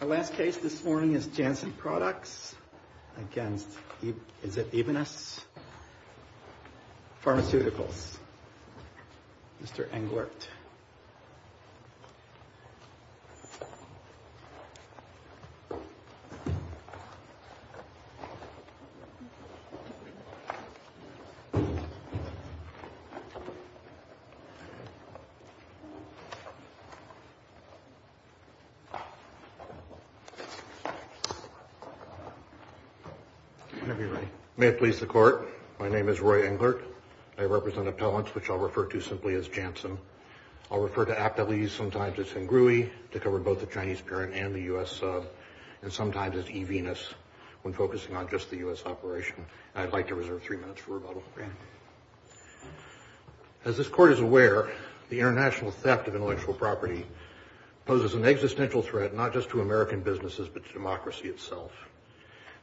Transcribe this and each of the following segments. The last case this morning is Janssen Products against, is it Evenus? Pharmaceuticals. Mr. Englert. May it please the court. My name is Roy Englert. I represent appellants, which I'll refer to simply as Janssen. I'll refer to appellees sometimes as Hengrui, to cover both the Chinese parent and the U.S. sub, and sometimes as Evenus, when focusing on just the U.S. operation. I'd like to reserve three minutes for rebuttal. As this court is aware, the international theft of intellectual property poses an existential threat not just to American businesses, but to democracy itself.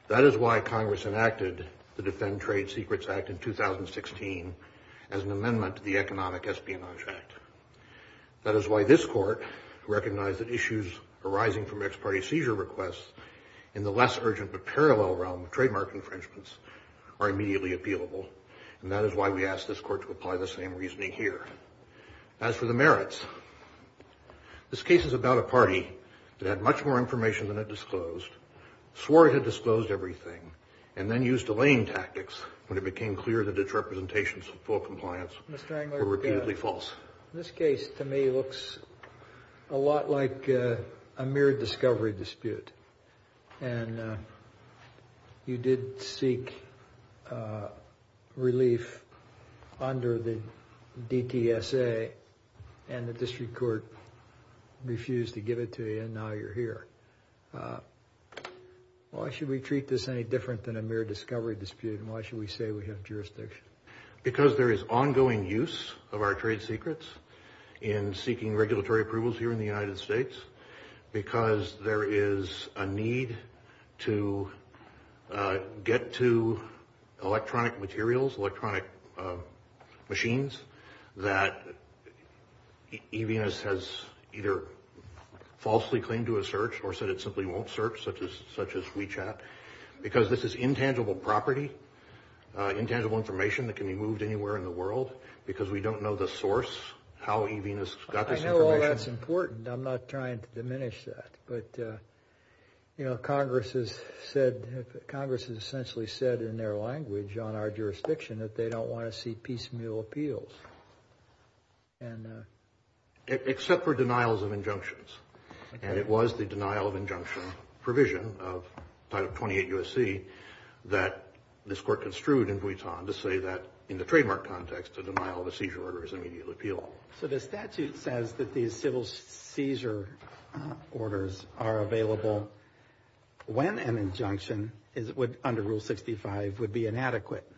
That is why Congress enacted the Defend Trade Secrets Act in 2016 as an amendment to the Economic Espionage Act. That is why this court recognized that issues arising from ex-party seizure requests in the less urgent but parallel realm of trademark infringements are immediately appealable, and that is why we ask this court to apply the same reasoning here. As for the merits, this case is about a party that had much more information than it disclosed, swore it had disclosed everything, and then used delaying tactics when it became clear that its representations of full compliance were repeatedly false. This case, to me, looks a lot like a mere discovery dispute, and you did seek relief under the DTSA, and the district court refused to give it to you, and now you're here. Why should we treat this any different than a mere discovery dispute, and why should we say we have jurisdiction? Because there is ongoing use of our trade secrets in seeking regulatory approvals here in the United States, because there is a need to get to electronic materials, electronic machines that EVNS has either falsely claimed to have searched or said it simply won't search, such as WeChat, because this is intangible property, intangible information. It can be moved anywhere in the world, because we don't know the source, how EVNS got this information. I know all that's important. I'm not trying to diminish that, but Congress has said, Congress has essentially said in their language on our jurisdiction that they don't want to see piecemeal appeals. Except for denials of injunctions, and it was the denial of injunction provision of Title 28 U.S.C. that this court construed in Vuitton to say that in the trademark context, a denial of a seizure order is an immediate appeal. So the statute says that these civil seizure orders are available when an injunction under Rule 65 would be inadequate.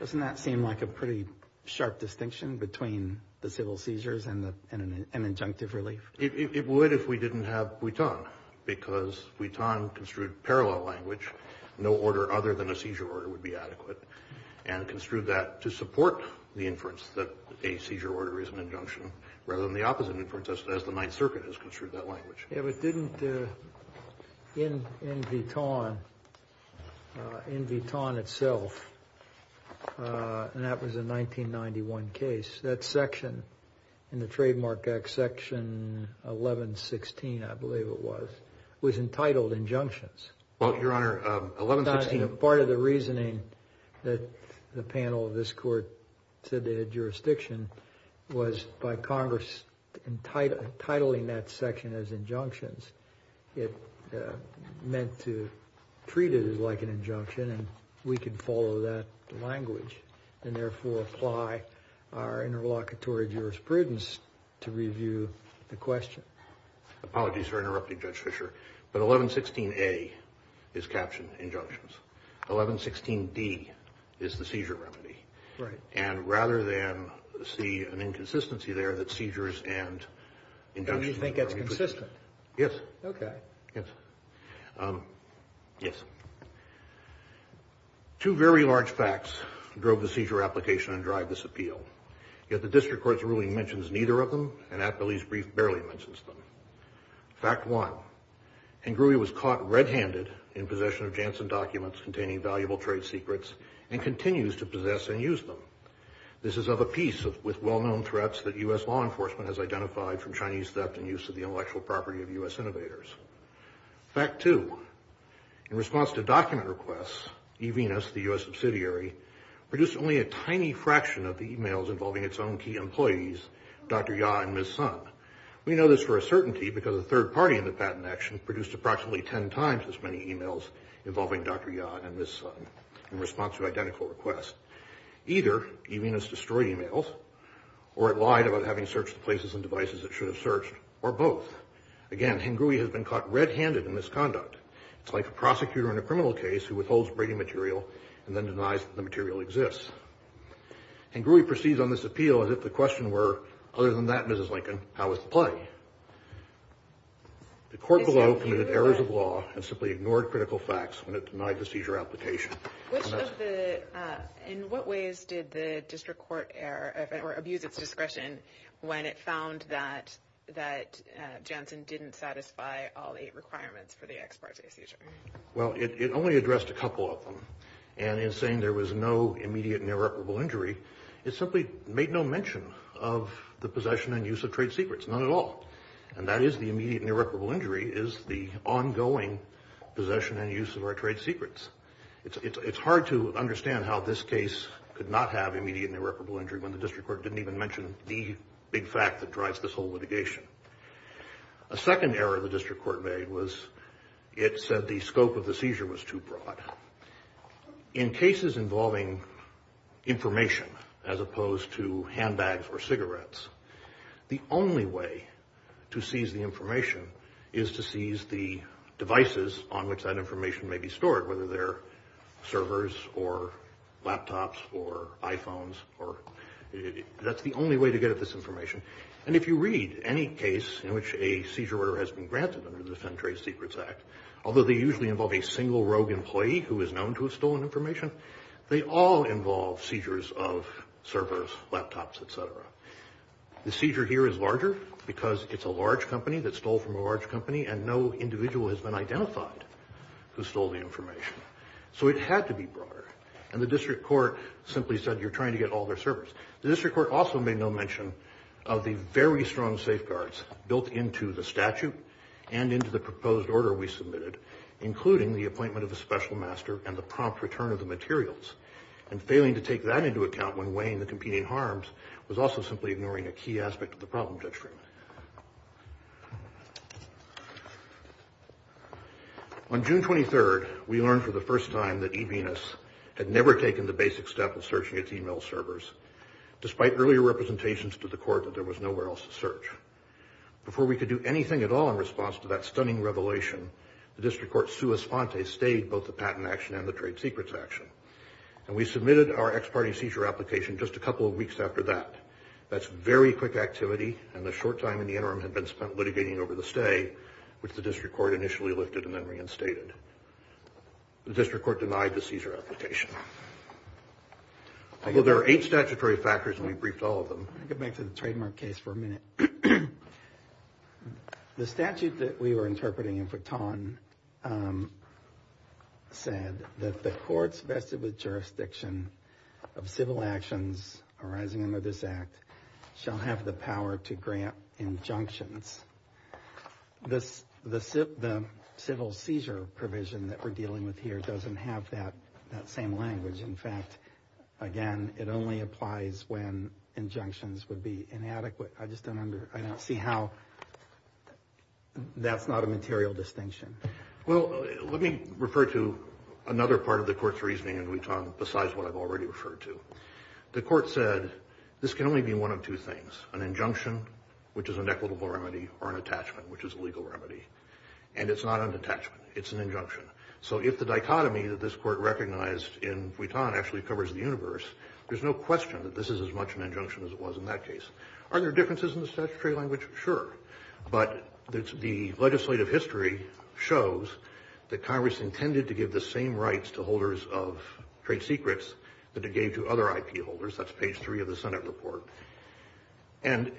Doesn't that seem like a pretty sharp distinction between the civil seizures and an injunctive relief? It would if we didn't have Vuitton, because Vuitton construed parallel language, no order other than a seizure order would be adequate, and construed that to support the inference that a seizure order is an injunction, rather than the opposite inference as the Ninth Circuit has construed that language. If it didn't, in Vuitton, in Vuitton itself, and that was a 1991 case, that section in the Trademark Act, Section 1116, I believe it was, was entitled injunctions. Part of the reasoning that the panel of this court said they had jurisdiction was by Congress titling that section as injunctions. It meant to treat it as like an injunction, and we could follow that language, and therefore apply our interlocutory jurisprudence to review the question. Apologies for interrupting, Judge Fischer, but 1116A is captioned injunctions. 1116D is the seizure remedy, and rather than see an inconsistency there that seizures and injunctions... And you think that's consistent? Yes. Okay. Yes. Yes. Two very large facts drove the seizure application and drive this appeal. Yet the district court's ruling mentions neither of them, and Atbilly's brief barely mentions them. Fact one, Ingrui was caught red-handed in possession of Janssen documents containing valuable trade secrets, and continues to possess and use them. This is of a piece with well-known threats that U.S. law enforcement has identified from Chinese theft and use of the intellectual property of U.S. innovators. Fact two, in response to document requests, eVenus, the U.S. subsidiary, produced only a tiny fraction of the emails involving its own key employees, Dr. Ya and Ms. Sun. We know this for a certainty because a third party in the patent action produced approximately ten times as many emails involving Dr. Ya and Ms. Sun in response to identical requests. Either eVenus destroyed emails, or it lied about having searched the places and devices it should have searched, or both. Again, Ingrui has been caught red-handed in this conduct. It's like a prosecutor in a criminal case who withholds breaking material and then denies that the material exists. Ingrui proceeds on this appeal as if the question were, other than that, Mrs. Lincoln, how was the play? The court below committed errors of law and simply ignored critical facts when it denied the seizure application. In what ways did the district court abuse its discretion when it found that Janssen didn't satisfy all eight requirements for the ex parte seizure? Well, it only addressed a couple of them. And in saying there was no immediate and irreparable injury, it simply made no mention of the possession and use of trade secrets, none at all. And that is the immediate and irreparable injury is the ongoing possession and use of our trade secrets. It's hard to understand how this case could not have immediate and irreparable injury when the district court didn't even mention the big fact that drives this whole litigation. A second error the district court made was it said the scope of the seizure was too broad. In cases involving information as opposed to handbags or cigarettes, the only way to seize the information is to seize the devices on which that information may be stored, whether they're servers or laptops or iPhones. That's the only way to get at this information. And if you read any case in which a seizure order has been granted under the Defend Trade Secrets Act, although they usually involve a single rogue employee who is known to have stolen information, they all involve seizures of servers, laptops, et cetera. The seizure here is larger because it's a large company that stole from a large company and no individual has been identified who stole the information. So it had to be broader. And the district court simply said you're trying to get all their servers. The district court also made no mention of the very strong safeguards built into the statute and into the proposed order we submitted, including the appointment of a special master and the prompt return of the materials. And failing to take that into account when weighing the competing harms was also simply ignoring a key aspect of the problem detriment. On June 23rd, we learned for the first time that eVenus had never taken the basic step of searching its e-mail servers, despite earlier representations to the court that there was nowhere else to search. Before we could do anything at all in response to that stunning revelation, the district court's sua sponte stayed both the patent action and the trade secrets action. And we submitted our ex-party seizure application just a couple of weeks after that. That's very quick activity and the short time in the interim had been spent litigating over the stay, which the district court initially lifted and then reinstated. The district court denied the seizure application. Although there are eight statutory factors and we briefed all of them. I could make the trademark case for a minute. The statute that we were interpreting in Fritton said that the courts vested with jurisdiction of civil actions arising under this act shall have the power to grant injunctions. The civil seizure provision that we're dealing with here doesn't have that same language. In fact, again, it only applies when injunctions would be inadequate. I just don't see how that's not a material distinction. Well, let me refer to another part of the court's reasoning in Fritton besides what I've already referred to. The court said this can only be one of two things, an injunction, which is an equitable remedy, or an attachment, which is a legal remedy. And it's not an attachment. It's an injunction. So if the dichotomy that this court recognized in Fritton actually covers the universe, there's no question that this is as much an injunction as it was in that case. Are there differences in the statutory language? Sure. But the legislative history shows that Congress intended to give the same rights to holders of trade secrets that it gave to other IP holders. That's page 3 of the Senate report. And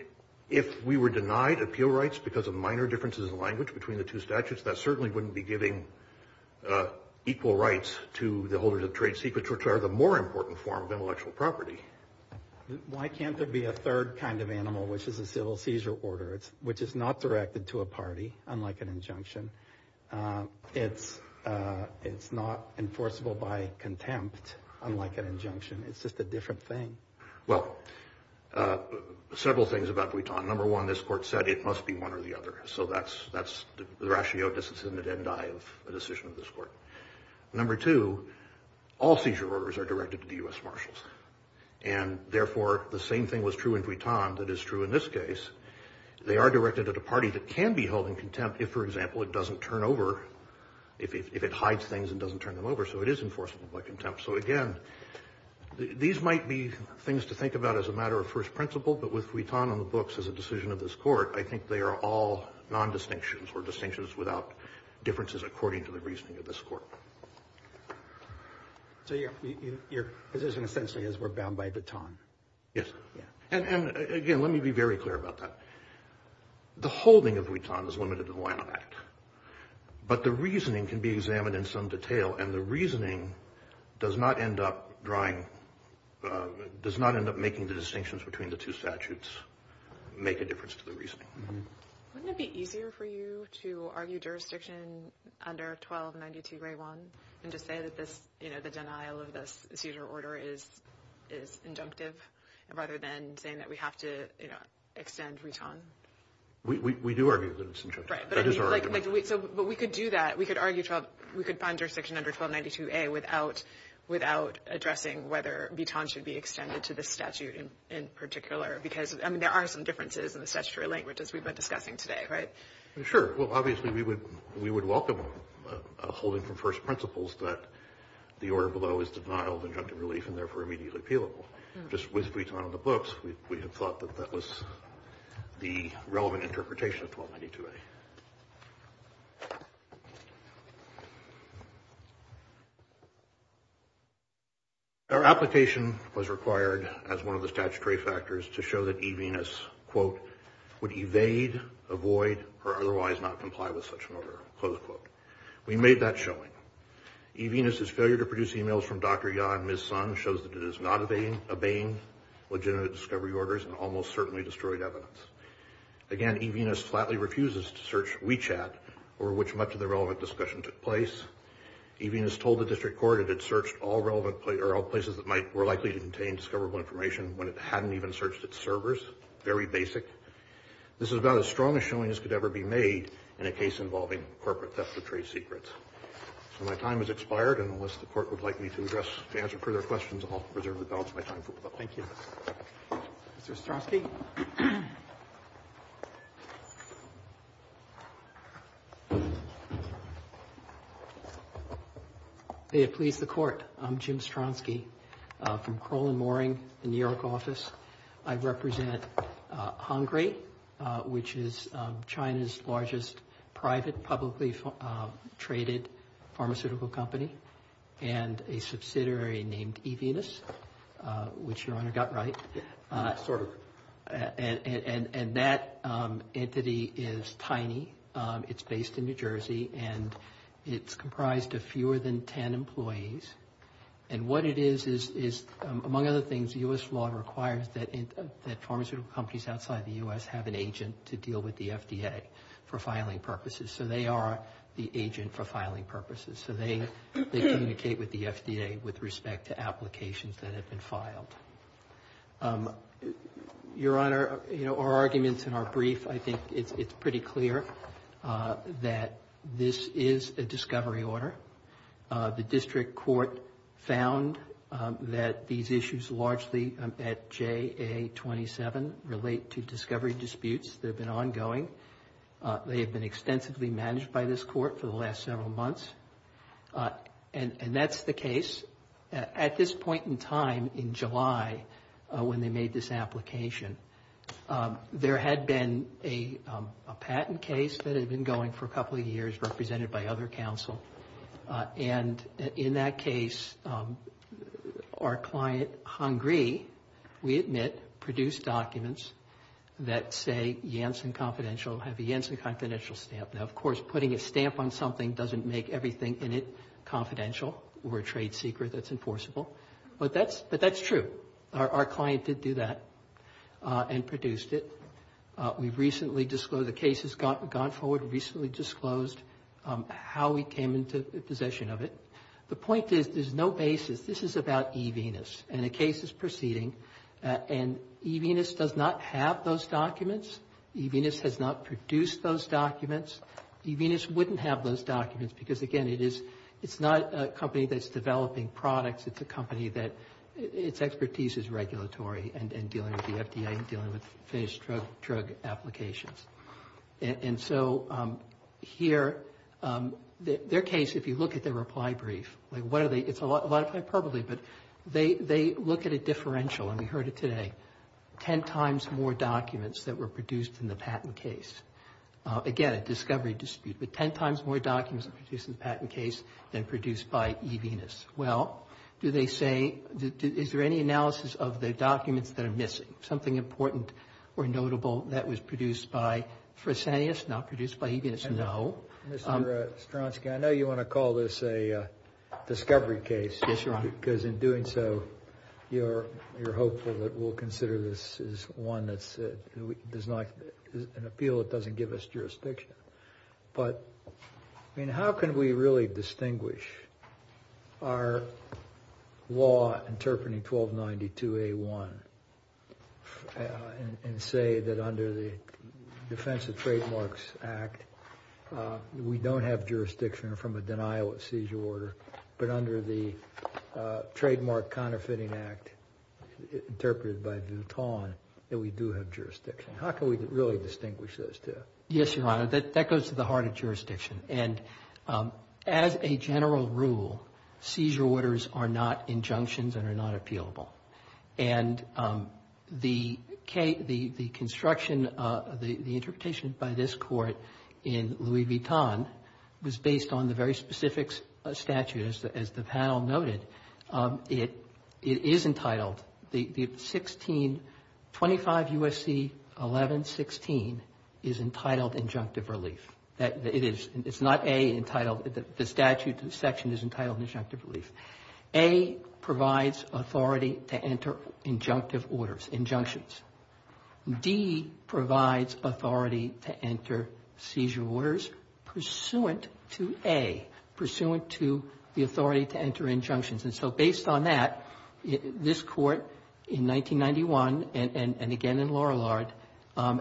if we were denied appeal rights because of minor differences in language between the two statutes, that certainly wouldn't be giving equal rights to the holders of trade secrets, which are the more important form of intellectual property. Why can't there be a third kind of animal, which is a civil seizure order, which is not directed to a party, unlike an injunction? It's not enforceable by contempt, unlike an injunction. It's just a different thing. Well, several things about Fritton. Number one, this court said it must be one or the other. So that's the ratio, disincentive and die of a decision of this court. Number two, all seizure orders are directed to the U.S. Marshals. And, therefore, the same thing was true in Fritton that is true in this case. They are directed at a party that can be held in contempt if, for example, it doesn't turn over, if it hides things and doesn't turn them over. So it is enforceable by contempt. So, again, these might be things to think about as a matter of first principle, but with Fritton on the books as a decision of this court, I think they are all nondistinctions or distinctions without differences according to the reasoning of this court. So your position essentially is we're bound by Vuitton. Yes. And, again, let me be very clear about that. The holding of Vuitton is limited to the Wynum Act. But the reasoning can be examined in some detail, and the reasoning does not end up drawing does not end up making the distinctions between the two statutes make a difference to the reasoning. Wouldn't it be easier for you to argue jurisdiction under 1292A1 and to say that this, you know, the denial of this seizure order is injunctive rather than saying that we have to, you know, extend Vuitton? We do argue that it's injunctive. Right. That is our argument. But we could do that. We could find jurisdiction under 1292A without addressing whether Vuitton should be extended to this statute in particular, because, I mean, there are some differences in the statutory language, as we've been discussing today, right? Sure. Well, obviously, we would welcome a holding from first principles that the order below is denial of injunctive relief and, therefore, immediately appealable. Just with Vuitton on the books, we had thought that that was the relevant interpretation of 1292A. Our application was required as one of the statutory factors to show that eVenus, quote, would evade, avoid, or otherwise not comply with such an order, close quote. We made that showing. eVenus's failure to produce emails from Dr. Ya and Ms. Sun shows that it is not obeying legitimate discovery orders and almost certainly destroyed evidence. Again, eVenus flatly refuses to search WeChat, over which much of the relevant discussion took place. eVenus told the district court it had searched all places that were likely to contain discoverable information when it hadn't even searched its servers. Very basic. This is about as strong a showing as could ever be made in a case involving corporate theft of trade secrets. So my time has expired, and unless the court would like me to answer further questions, I'll reserve the balance of my time. Thank you. Mr. Stronsky. May it please the Court. I'm Jim Stronsky from Kroll & Moring, the New York office. I represent Hongre, which is China's largest private publicly traded pharmaceutical company, and a subsidiary named eVenus, which Your Honor got right. Sort of. And that entity is tiny. It's based in New Jersey, and it's comprised of fewer than 10 employees. And what it is is, among other things, the U.S. law requires that pharmaceutical companies outside the U.S. have an agent to deal with the FDA for filing purposes. So they are the agent for filing purposes. So they communicate with the FDA with respect to applications that have been filed. Your Honor, you know, our arguments in our brief, I think it's pretty clear that this is a discovery order. The district court found that these issues largely at JA-27 relate to discovery disputes that have been ongoing. They have been extensively managed by this court for the last several months. And that's the case. At this point in time, in July, when they made this application, there had been a patent case that had been going for a couple of years, represented by other counsel. And in that case, our client, Hungry, we admit, produced documents that say Janssen Confidential, have a Janssen Confidential stamp. Now, of course, putting a stamp on something doesn't make everything in it confidential or a trade secret that's enforceable. But that's true. Our client did do that and produced it. We've recently disclosed the case has gone forward, recently disclosed how we came into possession of it. The point is there's no basis. This is about eVenus. And a case is proceeding, and eVenus does not have those documents. eVenus has not produced those documents. eVenus wouldn't have those documents because, again, it is not a company that's developing products. It's a company that, its expertise is regulatory and dealing with the FDA and dealing with phased drug applications. And so here, their case, if you look at their reply brief, it's a lot of hyperbole, but they look at a differential, and we heard it today, 10 times more documents that were produced in the patent case. Again, a discovery dispute, but 10 times more documents produced in the patent case than produced by eVenus. Well, do they say, is there any analysis of the documents that are missing, something important or notable that was produced by Fresenius, not produced by eVenus? No. Mr. Stronsky, I know you want to call this a discovery case. Yes, Your Honor. Because in doing so, you're hopeful that we'll consider this as one that does not, an appeal that doesn't give us jurisdiction. But, I mean, how can we really distinguish our law interpreting 1292A1 and say that under the Defense of Trademarks Act, we don't have jurisdiction from a denial of seizure order, but under the Trademark Counterfeiting Act, interpreted by Vuitton, that we do have jurisdiction? How can we really distinguish those two? Yes, Your Honor. That goes to the heart of jurisdiction. And as a general rule, seizure orders are not injunctions and are not appealable. And the construction, the interpretation by this Court in Louis Vuitton was based on the very specific statute, as the panel noted. It is entitled, the 16, 25 U.S.C. 1116 is entitled injunctive relief. It is. It's not A entitled. The statute section is entitled injunctive relief. A provides authority to enter injunctive orders, injunctions. D provides authority to enter seizure orders pursuant to A, pursuant to the authority to enter injunctions. And so based on that, this Court in 1991, and again in Laurelard,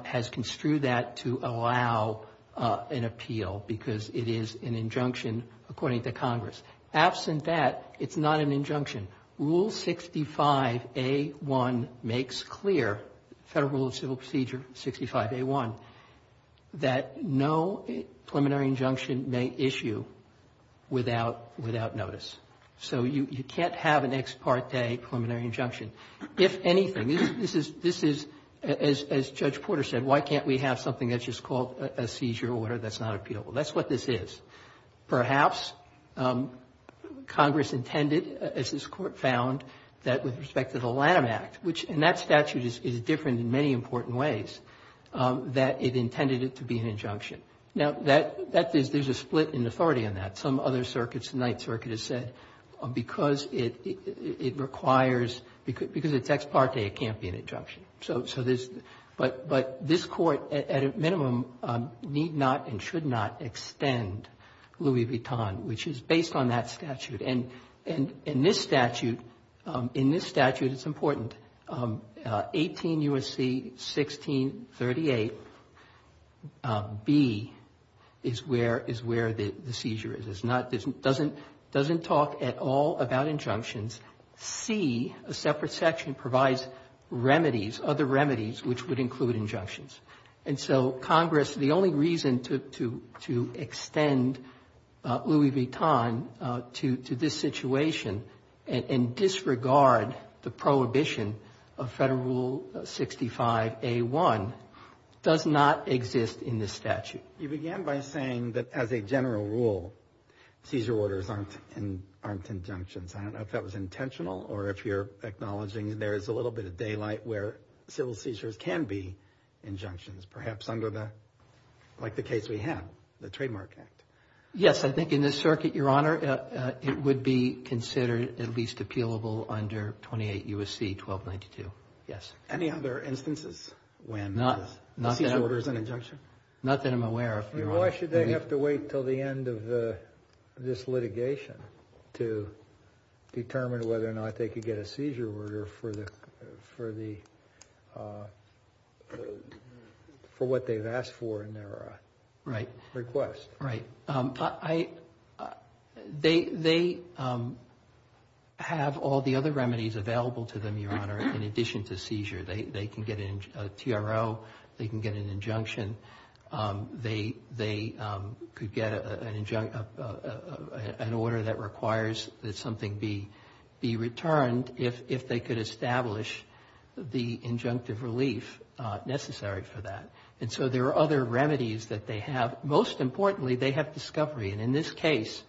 has construed that to allow an appeal because it is an injunction according to Congress. Absent that, it's not an injunction. Rule 65A1 makes clear, Federal Rule of Civil Procedure 65A1, that no preliminary injunction may issue without notice. So you can't have an ex parte preliminary injunction. If anything, this is, as Judge Porter said, why can't we have something that's just called a seizure order that's not appealable? That's what this is. Perhaps Congress intended, as this Court found, that with respect to the Lanham Act, which in that statute is different in many important ways, that it intended it to be an injunction. Now, that is, there's a split in authority on that. Some other circuits, the Ninth Circuit has said, because it requires, because it's ex parte, it can't be an injunction. So there's, but this Court, at a minimum, need not and should not extend Louis Vuitton, which is based on that statute. And in this statute, in this statute, it's important, 18 U.S.C. 1638b is where the seizure is. It's not, doesn't talk at all about injunctions. C, a separate section, provides remedies, other remedies, which would include injunctions. And so Congress, the only reason to extend Louis Vuitton to this situation and disregard the prohibition of Federal Rule 65a1, does not exist in this statute. You began by saying that as a general rule, seizure orders aren't injunctions. I don't know if that was intentional or if you're acknowledging there is a little bit of daylight where civil seizures can be injunctions, perhaps under the, like the case we have, the Trademark Act. Yes, I think in this circuit, Your Honor, it would be considered at least appealable under 28 U.S.C. 1292, yes. Any other instances when the seizure order is an injunction? Not that I'm aware of, Your Honor. Why should they have to wait until the end of this litigation to determine whether or not they could get a seizure order for the, for what they've asked for in their request? Right, right. They have all the other remedies available to them, Your Honor, in addition to seizure. They can get a TRO. They can get an injunction. They could get an order that requires that something be returned if they could establish the injunctive relief necessary for that. And so there are other remedies that they have. Most importantly, they have discovery. And in this case,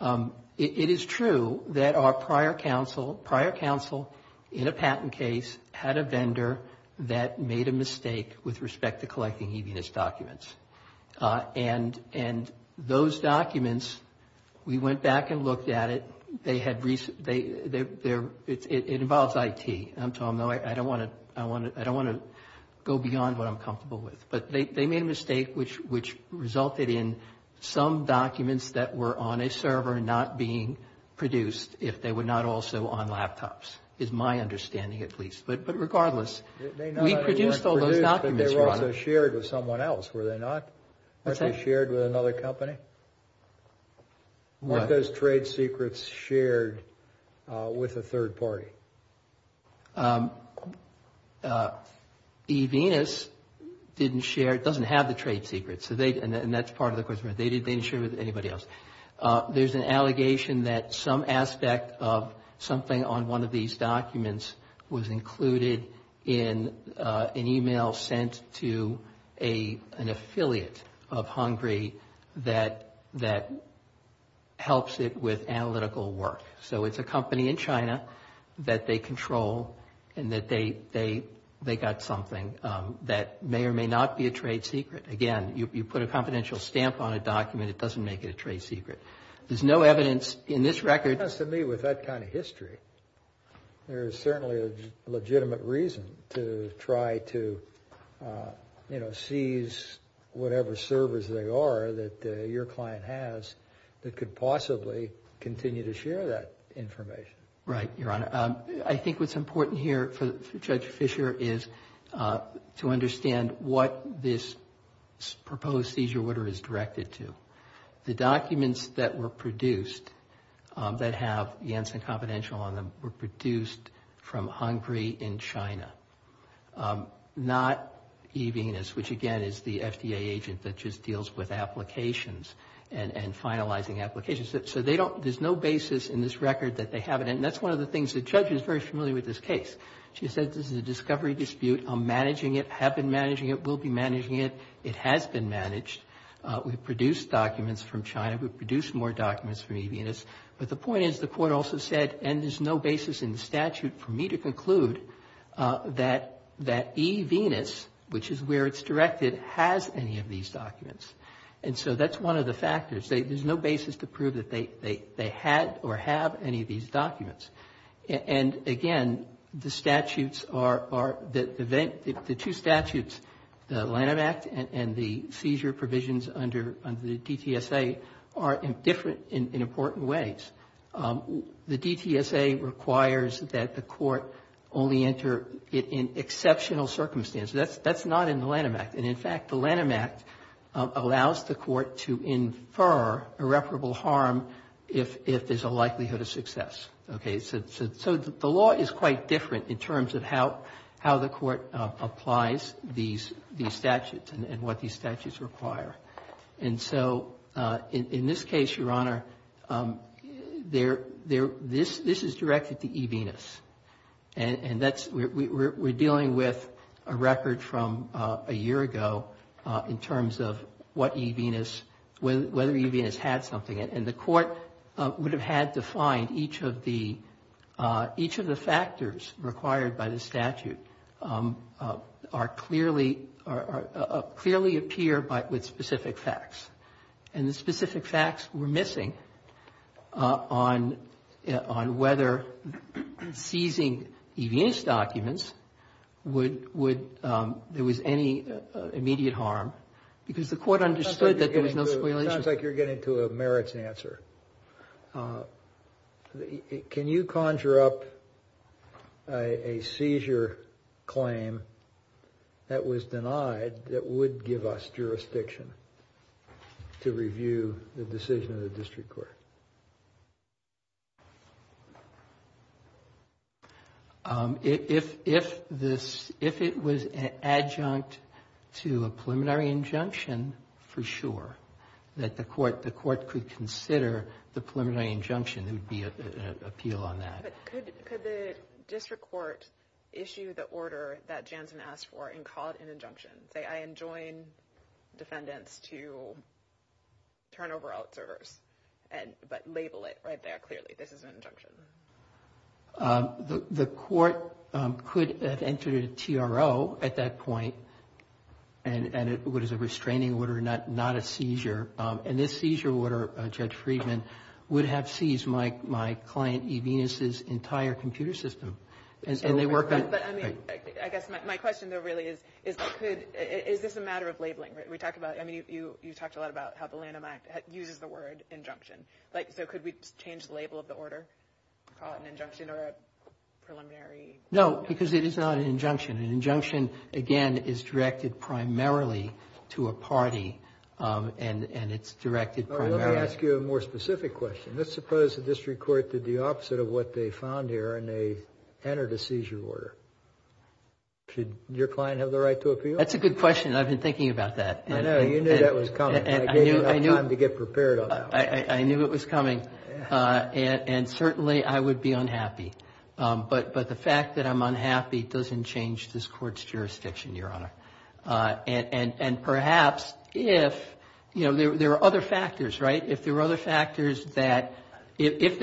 it is true that our prior counsel, prior counsel in a patent case, had a vendor that made a mistake with respect to collecting EVS documents. And those documents, we went back and looked at it. They had, it involves IT. I don't want to go beyond what I'm comfortable with. But they made a mistake which resulted in some documents that were on a server not being produced if they were not also on laptops, is my understanding at least. But regardless, we produced all those documents, Your Honor. They were also shared with someone else, were they not? What's that? Weren't they shared with another company? What? Weren't those trade secrets shared with a third party? Okay. EVS didn't share, doesn't have the trade secrets. And that's part of the question. They didn't share with anybody else. There's an allegation that some aspect of something on one of these documents was included in an email sent to an affiliate of Hungary that helps it with analytical work. So it's a company in China that they control and that they got something that may or may not be a trade secret. Again, you put a confidential stamp on a document, it doesn't make it a trade secret. There's no evidence in this record. To me, with that kind of history, there's certainly a legitimate reason to try to, you know, whatever service they are that your client has that could possibly continue to share that information. Right, Your Honor. I think what's important here for Judge Fischer is to understand what this proposed seizure order is directed to. The documents that were produced that have Janssen confidential on them were produced from Hungary in China, not EVS, which again is the FDA agent that just deals with applications and finalizing applications. So there's no basis in this record that they have it. And that's one of the things the judge is very familiar with this case. She said this is a discovery dispute. I'm managing it, have been managing it, will be managing it. It has been managed. We've produced documents from China. We've produced more documents from EVS. But the point is the Court also said, and there's no basis in the statute for me to conclude that EVS, which is where it's directed, has any of these documents. And so that's one of the factors. There's no basis to prove that they had or have any of these documents. And again, the statutes are, the two statutes, the Lanham Act and the seizure provisions under the DTSA, are different in important ways. The DTSA requires that the Court only enter it in exceptional circumstances. That's not in the Lanham Act. And, in fact, the Lanham Act allows the Court to infer irreparable harm if there's a likelihood of success. Okay? So the law is quite different in terms of how the Court applies these statutes and what these statutes require. And so in this case, Your Honor, this is directed to EVS. And that's, we're dealing with a record from a year ago in terms of what EVS, whether EVS had something. And the Court would have had to find each of the, each of the factors required by the statute are clearly, clearly appear with specific facts. And the specific facts were missing on whether seizing EVS documents would, there was any immediate harm. Because the Court understood that there was no spoliation. It sounds like you're getting to a merits answer. Can you conjure up a seizure claim that was denied that would give us jurisdiction to review the decision of the district court? If, if this, if it was an adjunct to a preliminary injunction, for sure, that the Court, the Court could consider the preliminary injunction, there would be an appeal on that. But could, could the district court issue the order that Jansen asked for and call it an injunction? Say, I enjoin defendants to turn over all servers and, but label it right there clearly. This is an injunction. The Court could have entered a TRO at that point. And it was a restraining order, not a seizure. And this seizure order, Judge Friedman, would have seized my, my client EVS's entire computer system. But I mean, I guess my question, though, really is, is that could, is this a matter of labeling? We talk about, I mean, you, you talked a lot about how the Lanham Act uses the word injunction. Like, so could we change the label of the order, call it an injunction or a preliminary? No, because it is not an injunction. An injunction, again, is directed primarily to a party. And, and it's directed primarily. Let me ask you a more specific question. Let's suppose the district court did the opposite of what they found here and they entered a seizure order. Should your client have the right to appeal? That's a good question. I've been thinking about that. I know. You knew that was coming. I gave you enough time to get prepared on that one. I knew it was coming. And certainly I would be unhappy. But the fact that I'm unhappy doesn't change this Court's jurisdiction, Your Honor. And perhaps if, you know, there are other factors, right? If they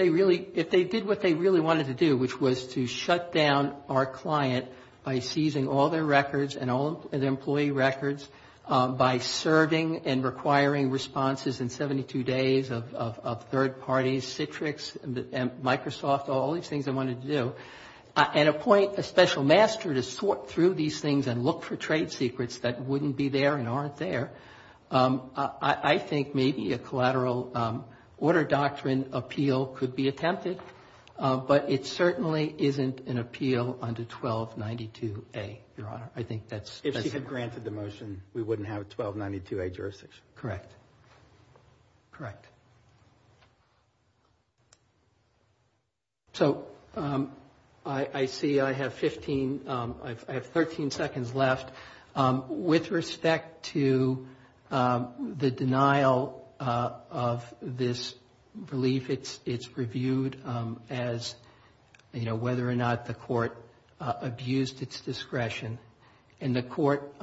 really, if they did what they really wanted to do, which was to shut down our client by seizing all their records and all their employee records, by serving and requiring responses in 72 days of third parties, Citrix and Microsoft, all these things they wanted to do, and appoint a special master to sort through these things and look for trade secrets that wouldn't be there and aren't there, I think maybe a collateral order doctrine appeal could be attempted. But it certainly isn't an appeal under 1292A, Your Honor. I think that's... If she had granted the motion, we wouldn't have 1292A jurisdiction. Correct. Correct. So I see I have 15, I have 13 seconds left. With respect to the denial of this relief, it's reviewed as, you know, whether or not the Court abused its discretion. And the Court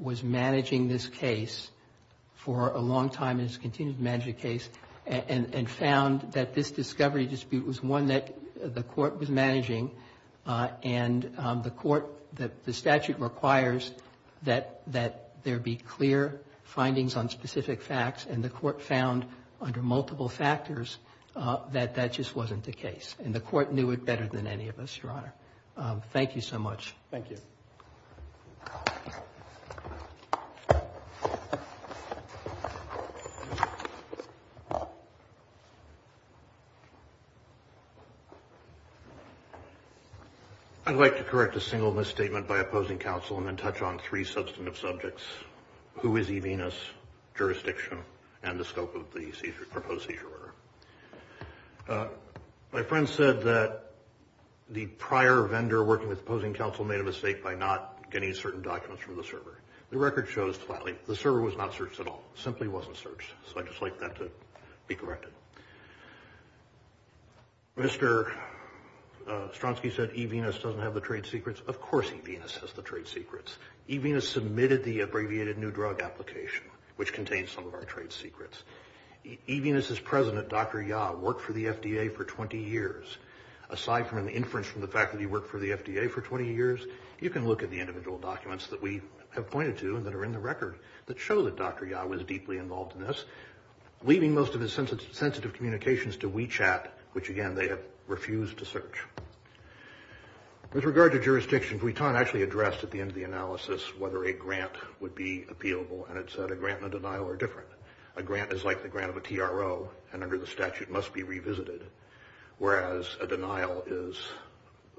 was managing this case for a long time and has continued to manage the case and found that this discovery dispute was one that the Court was managing and the Court, the statute requires that there be clear findings on specific facts, and the Court found under multiple factors that that just wasn't the case. And the Court knew it better than any of us, Your Honor. Thank you so much. Thank you. I'd like to correct a single misstatement by opposing counsel and then touch on three substantive subjects, who is Evinas, jurisdiction, and the scope of the proposed seizure order. My friend said that the prior vendor working with opposing counsel made a mistake by not getting certain documents from the server. The record shows flatly the server was not searched at all, simply wasn't searched. So I'd just like that to be corrected. Mr. Stronsky said Evinas doesn't have the trade secrets. Of course Evinas has the trade secrets. Evinas submitted the abbreviated new drug application, which contains some of our trade secrets. Evinas's president, Dr. Ya, worked for the FDA for 20 years. Aside from an inference from the fact that he worked for the FDA for 20 years, you can look at the individual documents that we have pointed to and that are in the record that show that Dr. Ya was deeply involved in this, leaving most of his sensitive communications to WeChat, which, again, they have refused to search. With regard to jurisdiction, Vuitton actually addressed at the end of the analysis whether a grant would be appealable, and it said a grant and a denial are different. A grant is like the grant of a TRO, and under the statute must be revisited, whereas a denial is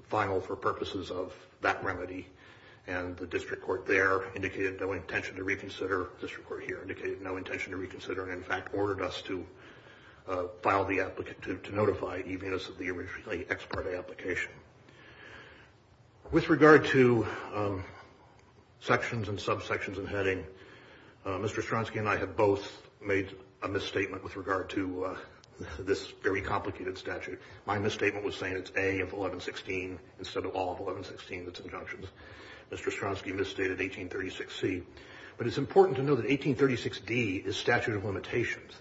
final for purposes of that remedy, and the district court there indicated no intention to reconsider, the district court here indicated no intention to reconsider, and in fact ordered us to notify Evinas of the originally ex parte application. With regard to sections and subsections and heading, Mr. Stronsky and I have both made a misstatement with regard to this very complicated statute. My misstatement was saying it's A of 1116 instead of all of 1116, that's injunctions. Mr. Stronsky misstated 1836C. But it's important to know that 1836D is statute of limitations.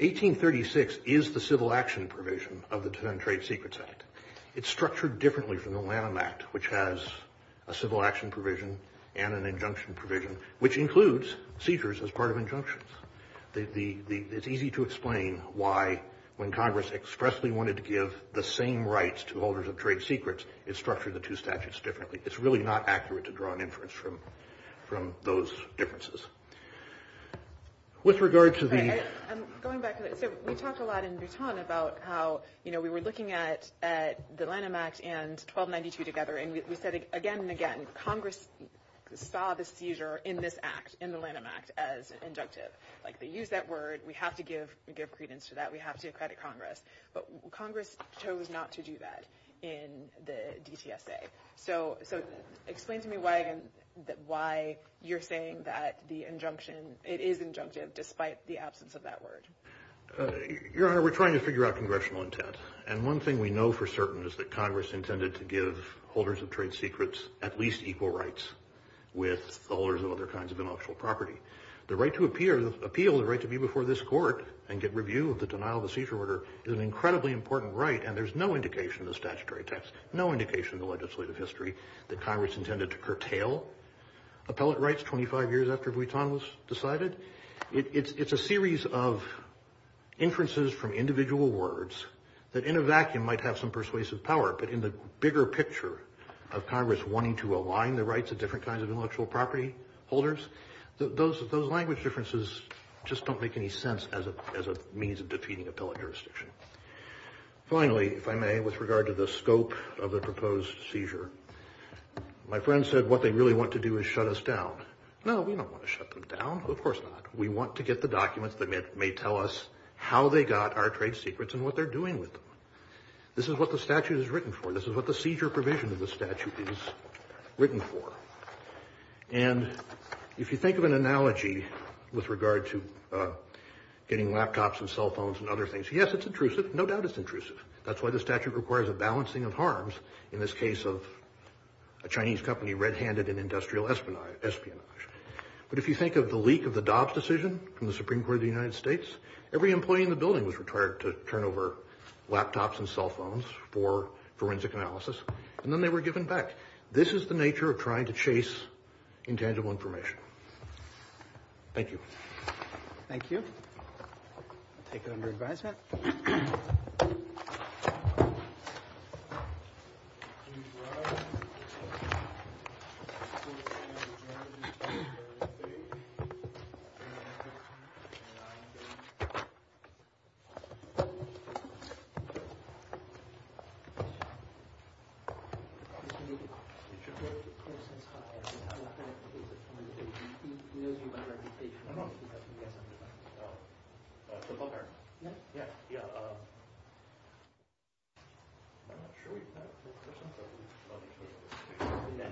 1836 is the civil action provision of the Defendant Trade Secrets Act. It's structured differently from the Lanham Act, which has a civil action provision and an injunction provision, which includes seizures as part of injunctions. It's easy to explain why, when Congress expressly wanted to give the same rights to holders of trade secrets, it structured the two statutes differently. It's really not accurate to draw an inference from those differences. We talked a lot in Bhutan about how we were looking at the Lanham Act and 1292 together, and we said again and again, Congress saw the seizure in this act, in the Lanham Act, as inductive. They used that word, we have to give credence to that, we have to credit Congress. But Congress chose not to do that in the DTSA. Explain to me why you're saying that it is injunctive, despite the absence of that word. Your Honor, we're trying to figure out Congressional intent. One thing we know for certain is that Congress intended to give holders of trade secrets at least equal rights with the holders of other kinds of intellectual property. The right to appeal, the right to be before this court and get review of the denial of the seizure order is an incredibly important right, and there's no indication in the statutory text, no indication in the legislative history, that Congress intended to curtail appellate rights 25 years after Bhutan was decided. It's a series of inferences from individual words that in a vacuum might have some persuasive power, but in the bigger picture of Congress wanting to align the rights of different kinds of intellectual property holders, those language differences just don't make any sense as a means of defeating appellate jurisdiction. Finally, if I may, with regard to the scope of the proposed seizure, my friend said what they really want to do is shut us down. No, we don't want to shut them down. Of course not. We want to get the documents that may tell us how they got our trade secrets and what they're doing with them. This is what the statute is written for. This is what the seizure provision of the statute is written for. And if you think of an analogy with regard to getting laptops and cell phones and other things, yes, it's intrusive. No doubt it's intrusive. That's why the statute requires a balancing of harms in this case of a Chinese company red-handed in industrial espionage. But if you think of the leak of the Dobbs decision from the Supreme Court of the United States, every employee in the building was required to turn over laptops and cell phones for forensic analysis, and then they were given back. This is the nature of trying to chase intangible information. Thank you. Thank you. I'll take it under advisement. Thank you.